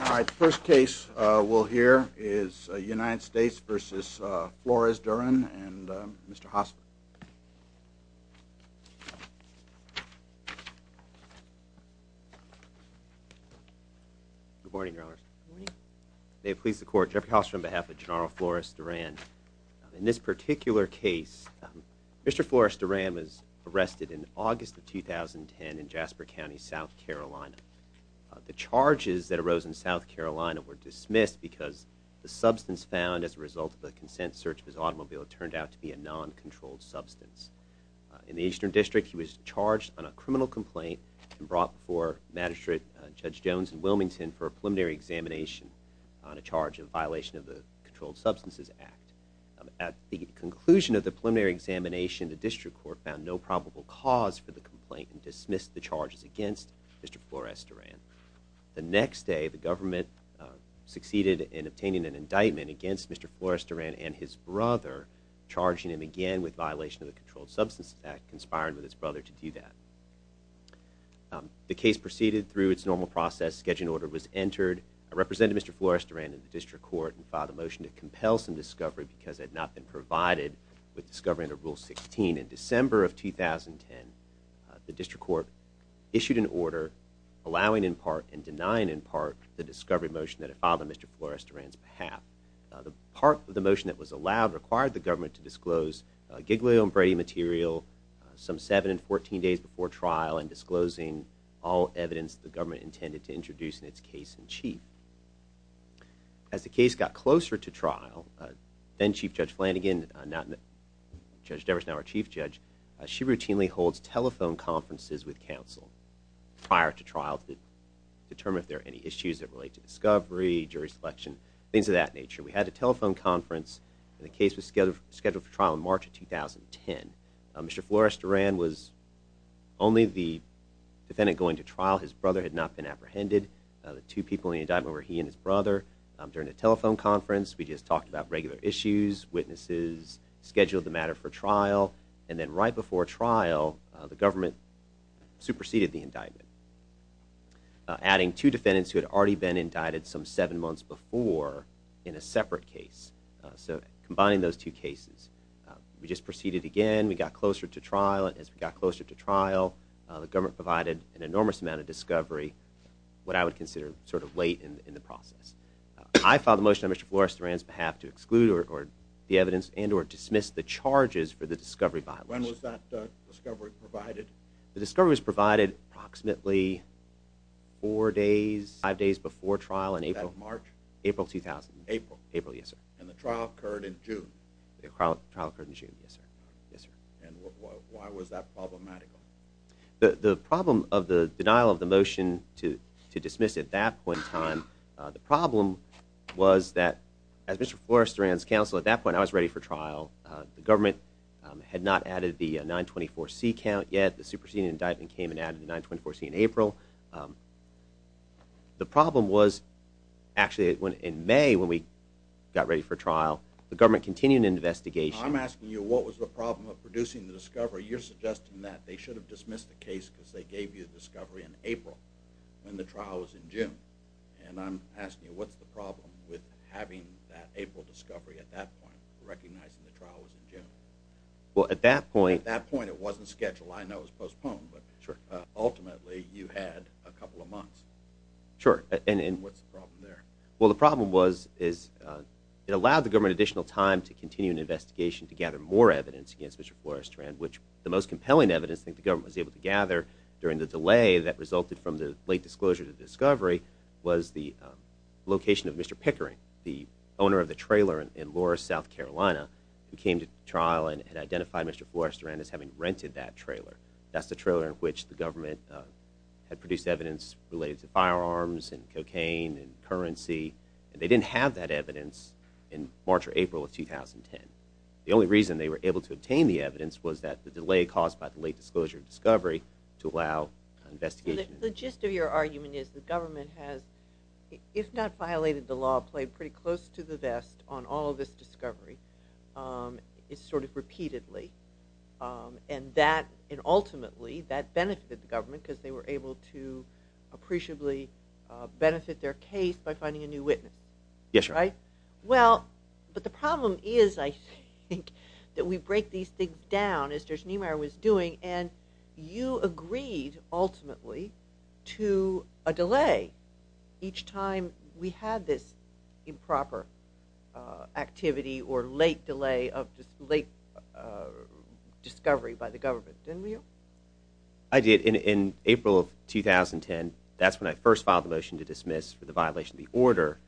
Alright, the first case we'll hear is United States v. Flores-Duran and Mr. Hossman. Good morning, Your Honors. Good morning. May it please the Court, Jeffrey Hossman on behalf of Genaro Flores-Duran. In this particular case, Mr. Flores-Duran was arrested in August of 2010 in Jasper County, South Carolina. The charges that arose in South Carolina were dismissed because the substance found as a result of a consent search of his automobile turned out to be a non-controlled substance. In the Eastern District, he was charged on a criminal complaint and brought before Magistrate Judge Jones in Wilmington for a preliminary examination on a charge of violation of the Controlled Substances Act. At the conclusion of the preliminary examination, the District Court found no probable cause for the complaint and dismissed the charges against Mr. Flores-Duran. The next day, the government succeeded in obtaining an indictment against Mr. Flores-Duran and his brother, charging him again with violation of the Controlled Substances Act, conspiring with his brother to do that. The case proceeded through its normal process. A scheduling order was entered. I represented Mr. Flores-Duran in the District Court and filed a motion to compel some discovery because it had not been provided with discovery under Rule 16. In December of 2010, the District Court issued an order allowing in part and denying in part the discovery motion that it filed on Mr. Flores-Duran's behalf. The part of the motion that was allowed required the government to disclose Giglio and Brady material some 7 and 14 days before trial and disclosing all evidence the government intended to introduce in its case in chief. As the case got closer to trial, then Chief Judge Flanagan, now Judge Devers, now our Chief Judge, she routinely holds telephone conferences with counsel prior to trial to determine if there are any issues that relate to discovery, jury selection, things of that nature. We had a telephone conference and the case was scheduled for trial in March of 2010. Mr. Flores-Duran was only the defendant going to trial. His brother had not been apprehended. The two people in the indictment were he and his brother. During the telephone conference, we just talked about regular issues, witnesses, scheduled the matter for trial, and then right before trial, the government superseded the indictment, adding two defendants who had already been indicted some seven months before in a separate case. So combining those two cases, we just proceeded again, we got closer to trial, the government provided an enormous amount of discovery, what I would consider sort of late in the process. I filed a motion on Mr. Flores-Duran's behalf to exclude the evidence and or dismiss the charges for the discovery violations. When was that discovery provided? The discovery was provided approximately four days, five days before trial in April. Was that March? April 2000. April? April, yes sir. And the trial occurred in June? The trial occurred in June, yes sir. Yes sir. And why was that problematic? The problem of the denial of the motion to dismiss at that point in time, the problem was that as Mr. Flores-Duran's counsel at that point, I was ready for trial. The government had not added the 924C count yet. The superseding indictment came and added the 924C in April. The problem was actually in May when we got ready for trial, the government continued an investigation. I'm asking you what was the problem of producing the discovery. You're suggesting that they should have dismissed the case because they gave you the discovery in April when the trial was in June. And I'm asking you what's the problem with having that April discovery at that point, recognizing the trial was in June? Well, at that point. At that point it wasn't scheduled. I know it was postponed, but ultimately you had a couple of months. Sure. What's the problem there? Well, the problem was it allowed the government additional time to continue an investigation to gather more evidence against Mr. Flores-Duran, which the most compelling evidence I think the government was able to gather during the delay that resulted from the late disclosure to discovery was the location of Mr. Pickering, the owner of the trailer in Loures, South Carolina, who came to trial and had identified Mr. Flores-Duran as having rented that trailer. That's the trailer in which the government had produced evidence related to firearms and cocaine and currency, and they didn't have that evidence in March or April of 2010. The only reason they were able to obtain the evidence was that the delay caused by the late disclosure of discovery to allow an investigation. The gist of your argument is the government has, if not violated the law, played pretty close to the vest on all of this discovery sort of repeatedly. And ultimately that benefited the government because they were able to appreciably benefit their case by finding a new witness. Yes, sir. Right? Well, but the problem is, I think, that we break these things down, as Judge Niemeyer was doing, and you agreed, ultimately, to a delay each time we had this improper activity or late delay of discovery by the government, didn't you? I did. In April of 2010, that's when I first filed the motion to dismiss for the violation of the order.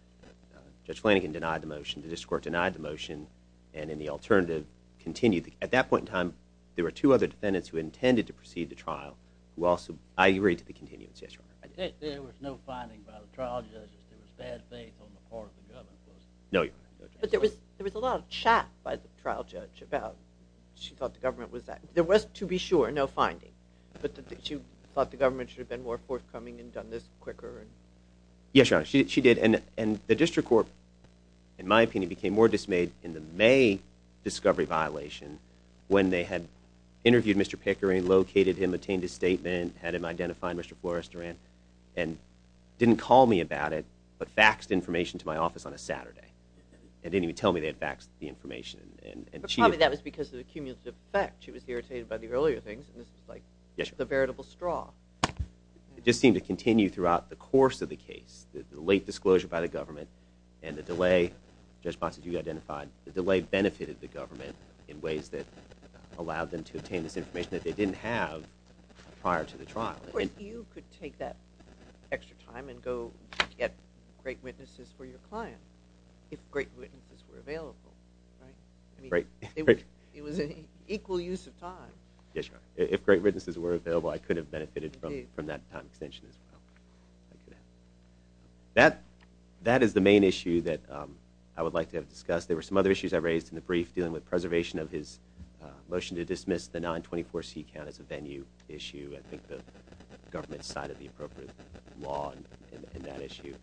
Judge Flanagan denied the motion. The district court denied the motion, and then the alternative continued. At that point in time, there were two other defendants who intended to proceed to trial who also, I agreed to the continuance. Yes, Your Honor. There was no finding by the trial judge that there was bad faith on the part of the government? No, Your Honor. But there was a lot of chat by the trial judge about, she thought the government was, there was, to be sure, no finding. But she thought the government should have been more forthcoming and done this quicker. Yes, Your Honor. She did, and the district court, in my opinion, became more dismayed in the May discovery violation when they had interviewed Mr. Pickering, located him, obtained his statement, had him identified, Mr. Flores-Duran, and didn't call me about it, but faxed information to my office on a Saturday. They didn't even tell me they had faxed the information. But probably that was because of the cumulative effect. She was irritated by the earlier things, and this was like the veritable straw. It just seemed to continue throughout the course of the case. The late disclosure by the government and the delay, Judge Bonsagiu identified, the delay benefited the government in ways that allowed them to obtain this information that they didn't have prior to the trial. But you could take that extra time and go get great witnesses for your client, if great witnesses were available, right? Right. It was an equal use of time. Yes, Your Honor. If great witnesses were available, I could have benefited from that time extension as well. That is the main issue that I would like to have discussed. There were some other issues I raised in the brief dealing with preservation of his motion to dismiss the 924C count as a venue issue. I think the government cited the appropriate law in that issue.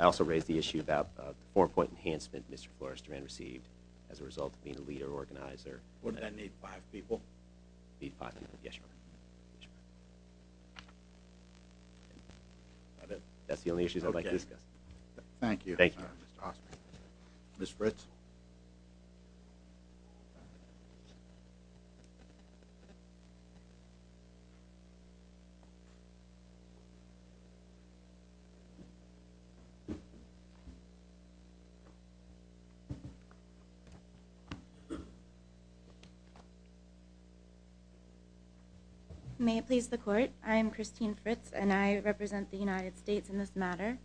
I also raised the issue about the four-point enhancement Mr. Flores-Duran received as a result of being a leader organizer. Wouldn't that need five people? Need five? Yes, Your Honor. That's the only issues I'd like to discuss. Thank you. Thank you. Ms. Fritz? May it please the Court. I am Christine Fritz, and I represent the United States in this matter.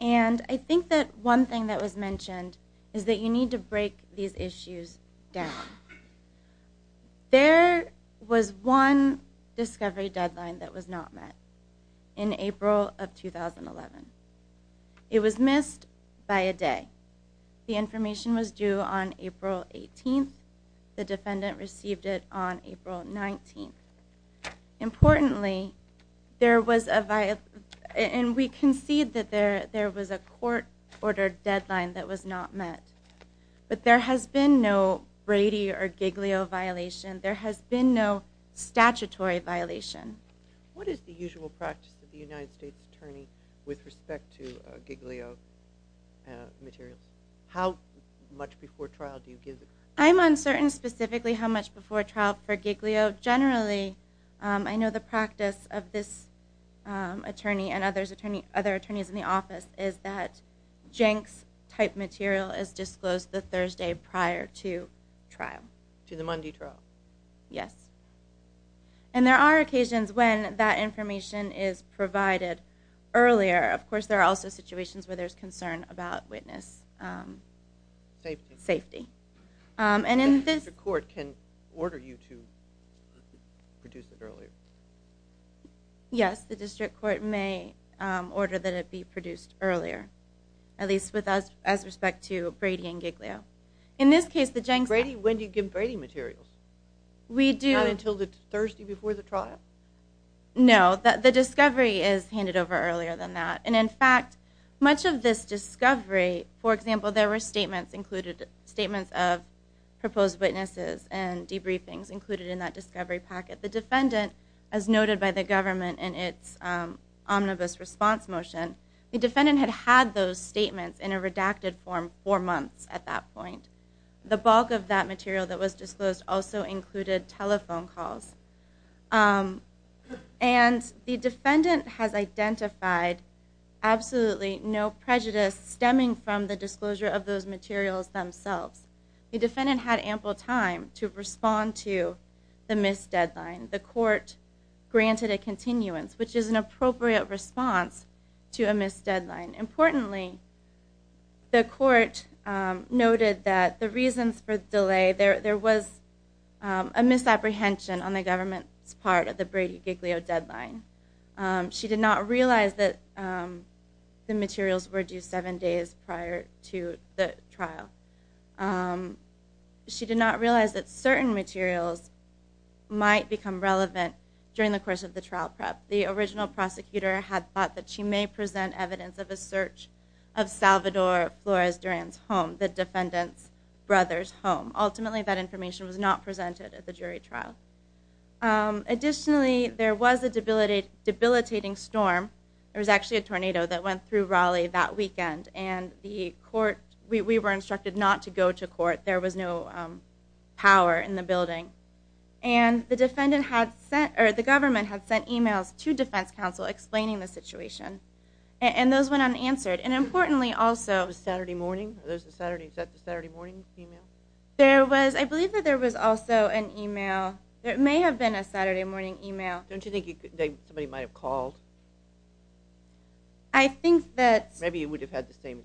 And I think that one thing that was mentioned is that you need to break these issues down. There was one discovery deadline that was not met in April of 2011. It was missed by a day. The information was due on April 18th. The defendant received it on April 19th. Importantly, there was a violation, and we concede that there was a court-ordered deadline that was not met. But there has been no Brady or Giglio violation. There has been no statutory violation. What is the usual practice of the United States Attorney with respect to Giglio materials? How much before trial do you give it? I'm uncertain specifically how much before trial for Giglio. Generally, I know the practice of this attorney and other attorneys in the office is that Jenks-type material is disclosed the Thursday prior to trial. To the Monday trial? Yes. And there are occasions when that information is provided earlier. Of course, there are also situations where there's concern about witness safety. The district court can order you to produce it earlier? Yes, the district court may order that it be produced earlier, at least as respect to Brady and Giglio. In this case, the Jenks-type- When do you give Brady materials? Not until the Thursday before the trial? No. The discovery is handed over earlier than that. In fact, much of this discovery, for example, there were statements of proposed witnesses and debriefings included in that discovery packet. The defendant, as noted by the government in its omnibus response motion, the defendant had had those statements in a redacted form for months at that point. The bulk of that material that was disclosed also included telephone calls. And the defendant has identified absolutely no prejudice stemming from the disclosure of those materials themselves. The defendant had ample time to respond to the missed deadline. The court granted a continuance, which is an appropriate response to a missed deadline. Importantly, the court noted that the reasons for the delay, there was a misapprehension on the government's part of the Brady-Giglio deadline. She did not realize that the materials were due seven days prior to the trial. She did not realize that certain materials might become relevant during the course of the trial prep. The original prosecutor had thought that she may present evidence of a search of Salvador Flores-Durian's home, the defendant's brother's home. Ultimately, that information was not presented at the jury trial. Additionally, there was a debilitating storm. There was actually a tornado that went through Raleigh that weekend, and we were instructed not to go to court. There was no power in the building. The government had sent e-mails to defense counsel explaining the situation, and those went unanswered. Importantly, also— Was it Saturday morning? Was that the Saturday morning e-mail? I believe that there was also an e-mail. It may have been a Saturday morning e-mail. Don't you think somebody might have called? I think that— Maybe it would have had the same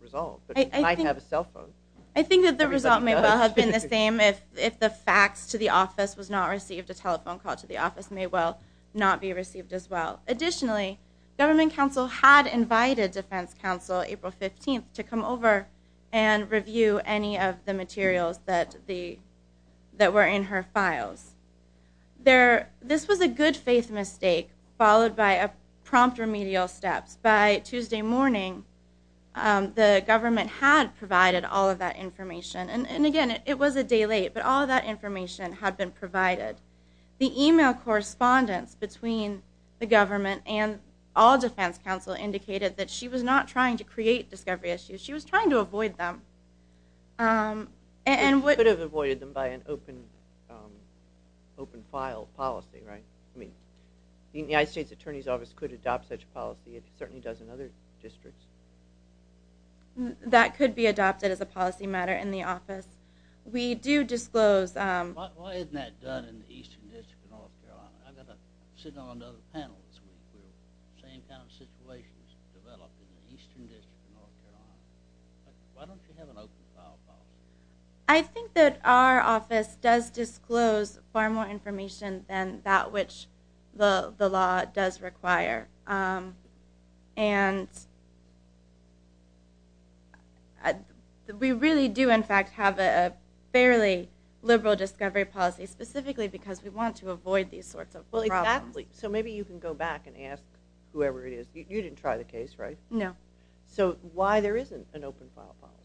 result, but you might have a cell phone. I think that the result may well have been the same if the fax to the office was not received. A telephone call to the office may well not be received as well. Additionally, government counsel had invited defense counsel April 15th to come over and review any of the materials that were in her files. This was a good-faith mistake followed by a prompt remedial steps. By Tuesday morning, the government had provided all of that information. Again, it was a day late, but all of that information had been provided. The e-mail correspondence between the government and all defense counsel indicated that she was not trying to create discovery issues. She was trying to avoid them. She could have avoided them by an open-file policy, right? The United States Attorney's Office could adopt such a policy. It certainly does in other districts. That could be adopted as a policy matter in the office. We do disclose— Why isn't that done in the Eastern District of North Carolina? I've got to sit on another panel this week. We're in the same kind of situations developing in the Eastern District of North Carolina. Why don't you have an open-file policy? I think that our office does disclose far more information than that which the law does require. We really do, in fact, have a fairly liberal discovery policy, specifically because we want to avoid these sorts of problems. Exactly. Maybe you can go back and ask whoever it is. You didn't try the case, right? No. Why there isn't an open-file policy?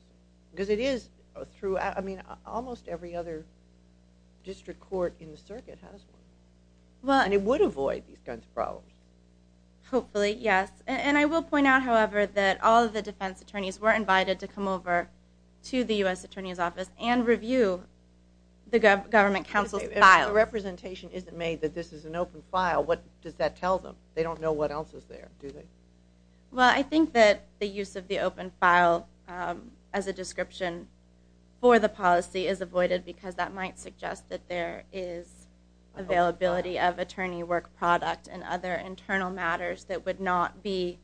Almost every other district court in the circuit has one, and it would avoid these kinds of problems. Hopefully, yes. I will point out, however, that all of the defense attorneys were invited to come over to the U.S. Attorney's Office and review the government counsel's files. If a representation isn't made that this is an open-file, what does that tell them? They don't know what else is there, do they? I think that the use of the open file as a description for the policy is avoided because that might suggest that there is availability of attorney work product and other internal matters that would be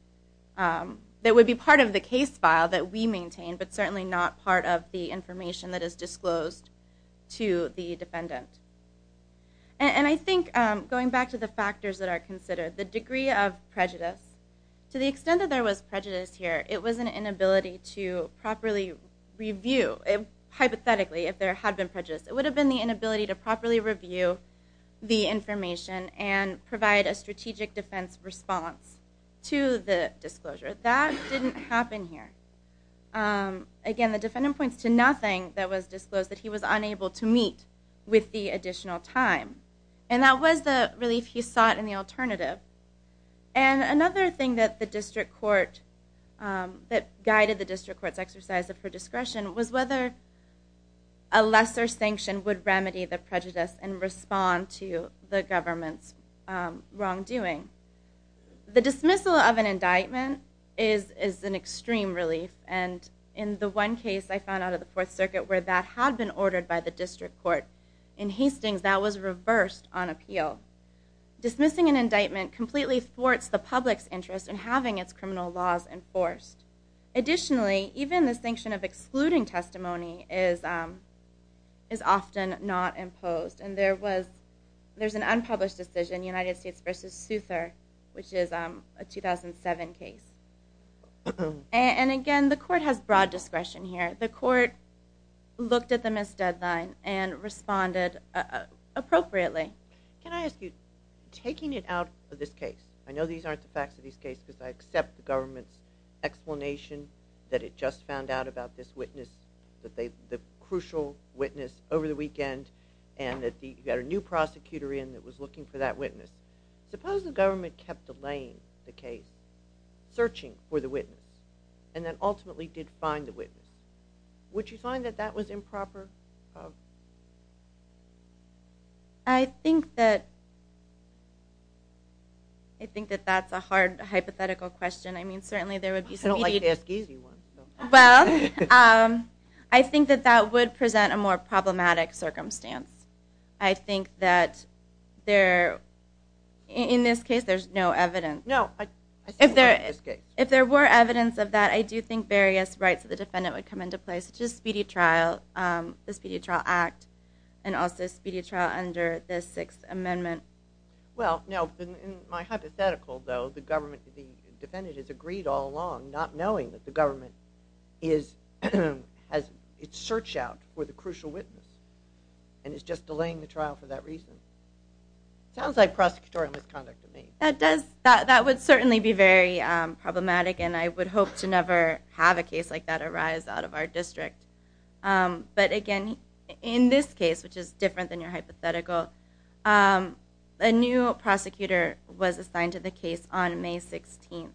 part of the case file that we maintain, but certainly not part of the information that is disclosed to the defendant. I think, going back to the factors that are considered, the degree of prejudice. To the extent that there was prejudice here, it was an inability to properly review. Hypothetically, if there had been prejudice, it would have been the inability to properly review the information and provide a strategic defense response to the disclosure. That didn't happen here. Again, the defendant points to nothing that was disclosed that he was unable to meet with the additional time. That was the relief he sought in the alternative. Another thing that guided the district court's exercise of her discretion was whether a lesser sanction would remedy the prejudice and respond to the government's wrongdoing. The dismissal of an indictment is an extreme relief. In the one case I found out of the Fourth Circuit where that had been ordered by the district court, in Hastings that was reversed on appeal. Dismissing an indictment completely thwarts the public's interest in having its criminal laws enforced. Additionally, even the sanction of excluding testimony is often not imposed. There's an unpublished decision, United States v. Southern, which is a 2007 case. Again, the court has broad discretion here. The court looked at the missed deadline and responded appropriately. Can I ask you, taking it out of this case, I know these aren't the facts of this case because I accept the government's explanation that it just found out about this witness, the crucial witness over the weekend, and that you got a new prosecutor in that was looking for that witness. Suppose the government kept delaying the case, searching for the witness, and then ultimately did find the witness. Would you find that that was improper? I think that that's a hard hypothetical question. I don't like to ask easy ones. Well, I think that that would present a more problematic circumstance. I think that in this case there's no evidence. No, I think not in this case. If there were evidence of that, I do think various rights of the defendant would come into play, such as speedy trial, the Speedy Trial Act, and also speedy trial under the Sixth Amendment. Well, no, in my hypothetical, though, the defendant has agreed all along, not knowing that the government has its search out for the crucial witness and is just delaying the trial for that reason. It sounds like prosecutorial misconduct to me. That would certainly be very problematic, and I would hope to never have a case like that arise out of our district. But, again, in this case, which is different than your hypothetical, a new prosecutor was assigned to the case on May 16th.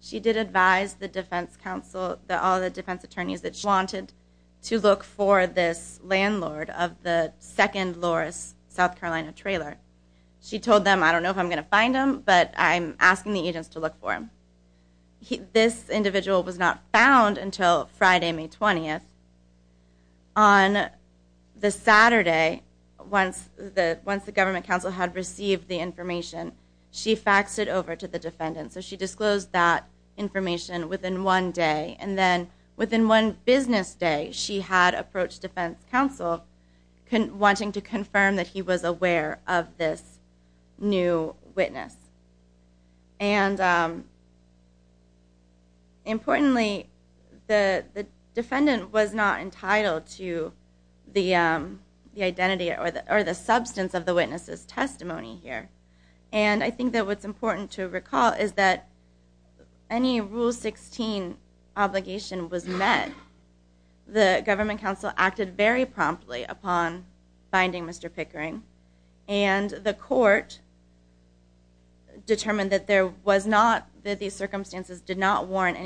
She did advise the defense counsel, all the defense attorneys, that she wanted to look for this landlord of the second Loris South Carolina trailer. She told them, I don't know if I'm going to find him, but I'm asking the agents to look for him. This individual was not found until Friday, May 20th. On the Saturday, once the government counsel had received the information, she faxed it over to the defendant. So she disclosed that information within one day, and then within one business day she had approached defense counsel wanting to confirm that he was aware of this new witness. Importantly, the defendant was not entitled to the identity or the substance of the witness's testimony here. I think that what's important to recall is that any Rule 16 obligation was met. The government counsel acted very promptly upon finding Mr. Pickering, and the court determined that these circumstances did not warrant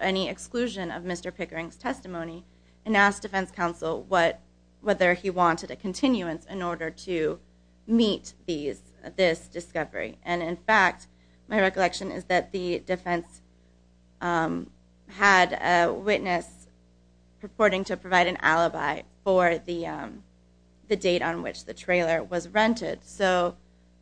any exclusion of Mr. Pickering's testimony, and asked defense counsel whether he wanted a continuance in order to meet this discovery. And in fact, my recollection is that the defense had a witness purporting to provide an alibi for the date on which the trailer was rented. So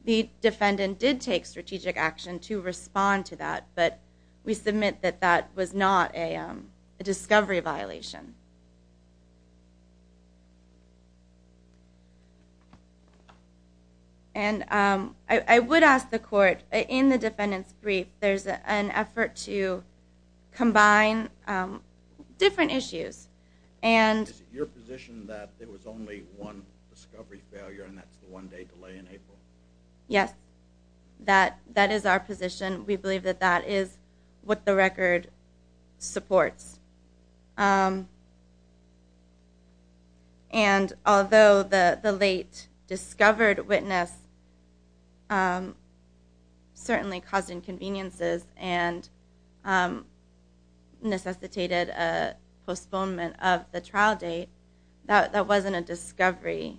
the defendant did take strategic action to respond to that, but we submit that that was not a discovery violation. And I would ask the court, in the defendant's brief, there's an effort to combine different issues. Is it your position that there was only one discovery failure, and that's the one day delay in April? Yes, that is our position. We believe that that is what the record supports. And although the late discovered witness certainly caused inconveniences and necessitated a postponement of the trial date, that wasn't a discovery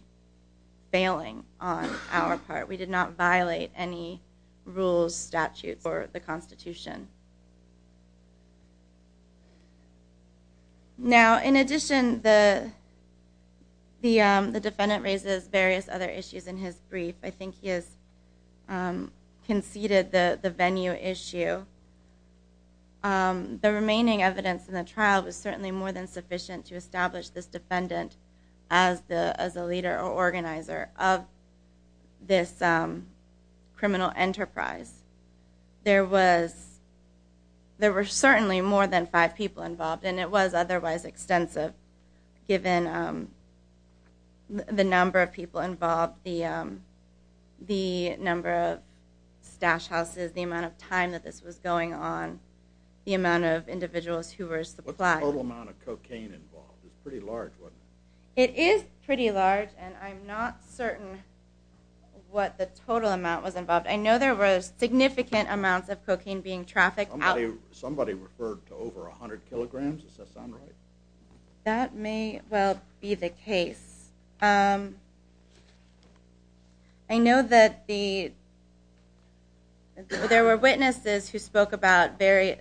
failing on our part. We did not violate any rules, statutes, or the Constitution. Now, in addition, the defendant raises various other issues in his brief. I think he has conceded the venue issue. The remaining evidence in the trial was certainly more than sufficient to establish this defendant as a leader or organizer of this criminal enterprise. There were certainly more than five people involved, and it was otherwise extensive given the number of people involved, the number of stash houses, the amount of time that this was going on, the amount of individuals who were supplied. What's the total amount of cocaine involved? It's pretty large, wasn't it? It is pretty large, and I'm not certain what the total amount was involved. I know there were significant amounts of cocaine being trafficked out. Somebody referred to over 100 kilograms. Does that sound right? That may well be the case. I know that there were witnesses who spoke about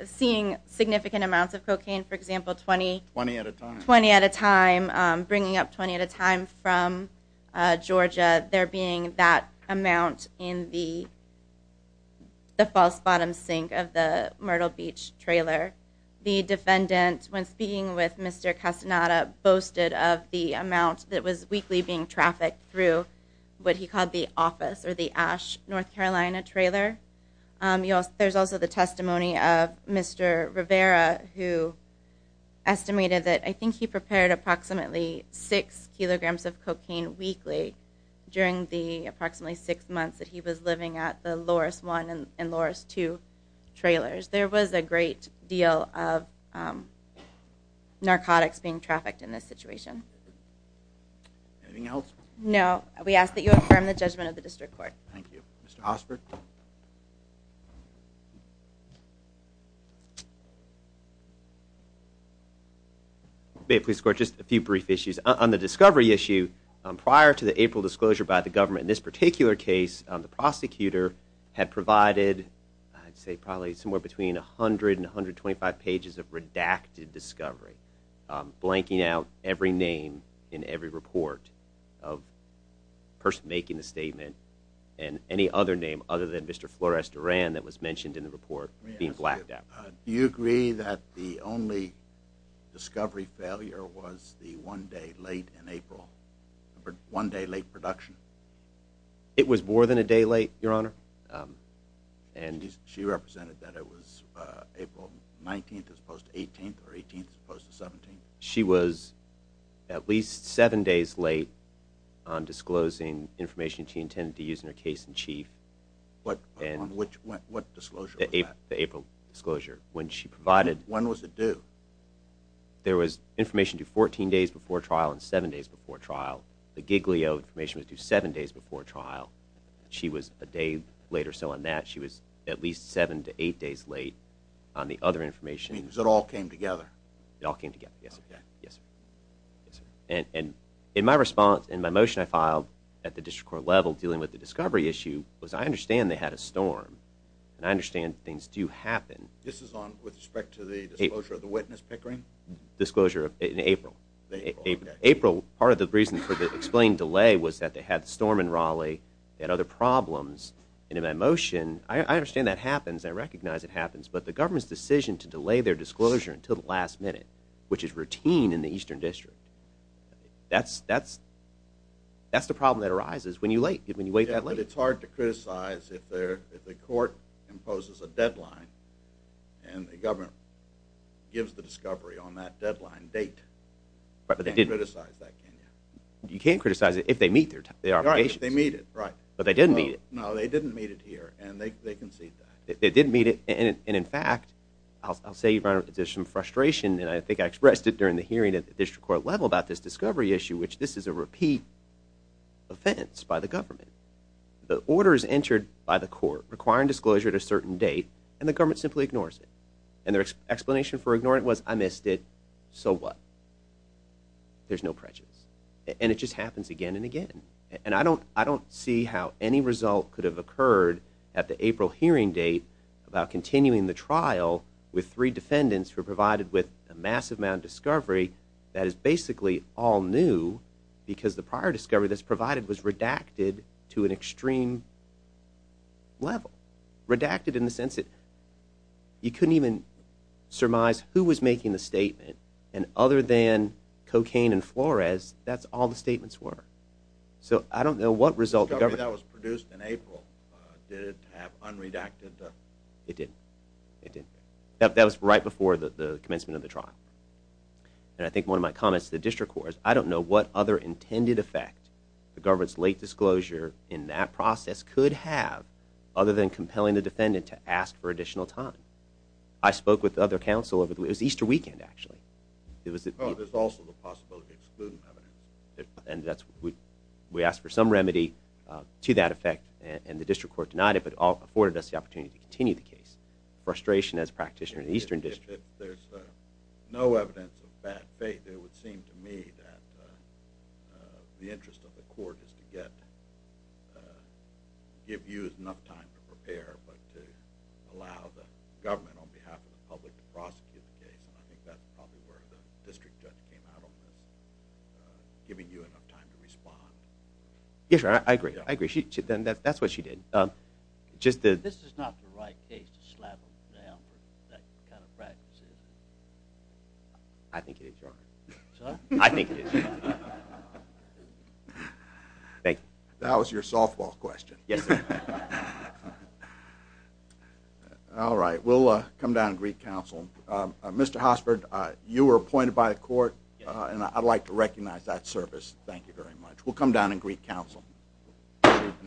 seeing significant amounts of cocaine, for example, 20 at a time, bringing up 20 at a time from Georgia, there being that amount in the false bottom sink of the Myrtle Beach trailer. The defendant, when speaking with Mr. Castaneda, boasted of the amount that was weekly being trafficked through what he called the office, or the Ash, North Carolina trailer. There's also the testimony of Mr. Rivera, who estimated that I think he prepared approximately six kilograms of cocaine weekly during the approximately six months that he was living at the Loris I and Loris II trailers. There was a great deal of narcotics being trafficked in this situation. Anything else? No. We ask that you affirm the judgment of the district court. Thank you. Mr. Osberg? May it please the court, just a few brief issues. On the discovery issue, prior to the April disclosure by the government in this particular case, the prosecutor had provided, I'd say probably somewhere between 100 and 125 pages of redacted discovery, blanking out every name in every report of the person making the statement, and any other name other than Mr. Flores Duran that was mentioned in the report being blacked out. Do you agree that the only discovery failure was the one day late in April, one day late production? It was more than a day late, Your Honor. She represented that it was April 19th as opposed to 18th or 18th as opposed to 17th? She was at least seven days late on disclosing information she intended to use in her case in chief. What disclosure was that? The April disclosure. When was it due? There was information due 14 days before trial and seven days before trial. The Giglio information was due seven days before trial. She was a day late or so on that. She was at least seven to eight days late on the other information. It means it all came together. It all came together, yes, sir. And in my response, in my motion I filed at the district court level dealing with the discovery issue, was I understand they had a storm, and I understand things do happen. This is with respect to the disclosure of the witness Pickering? Disclosure in April. April, part of the reason for the explained delay was that they had the storm in Raleigh. They had other problems. And in my motion, I understand that happens. I recognize it happens. But the government's decision to delay their disclosure until the last minute, which is routine in the Eastern District, that's the problem that arises when you wait that late. And the government gives the discovery on that deadline date. You can't criticize that, can you? You can't criticize it if they meet their obligations. Right, if they meet it, right. But they didn't meet it. No, they didn't meet it here, and they concede that. They didn't meet it, and in fact, I'll say there's some frustration, and I think I expressed it during the hearing at the district court level about this discovery issue, which this is a repeat offense by the government. The order is entered by the court requiring disclosure at a certain date, and the government simply ignores it. And their explanation for ignoring it was, I missed it, so what? There's no prejudice. And it just happens again and again. And I don't see how any result could have occurred at the April hearing date about continuing the trial with three defendants who were provided with a massive amount of discovery that is basically all new because the prior discovery that's provided was redacted to an extreme level. Redacted in the sense that you couldn't even surmise who was making the statement, and other than Cocaine and Flores, that's all the statements were. So I don't know what result the government. The discovery that was produced in April, did it have unredacted? It didn't. It didn't. That was right before the commencement of the trial. And I think one of my comments to the district court is, I don't know what other intended effect the government's late disclosure in that process could have other than compelling the defendant to ask for additional time. I spoke with the other counsel. It was Easter weekend, actually. Oh, there's also the possibility of excluding evidence. And we asked for some remedy to that effect, and the district court denied it but afforded us the opportunity to continue the case. Frustration as a practitioner in the Eastern District. If there's no evidence of bad faith, it would seem to me that the interest of the court is to give you enough time to prepare but to allow the government on behalf of the public to prosecute the case, and I think that's probably where the district judge came out on this, giving you enough time to respond. Yes, I agree. I agree. Then that's what she did. This is not the right case to slap them down for that kind of practice, is it? I think it is, Your Honor. I think it is. That was your softball question. All right, we'll come down and greet counsel. Mr. Hosford, you were appointed by the court, and I'd like to recognize that service. Thank you very much. We'll come down and greet counsel. We'll see you at the next case.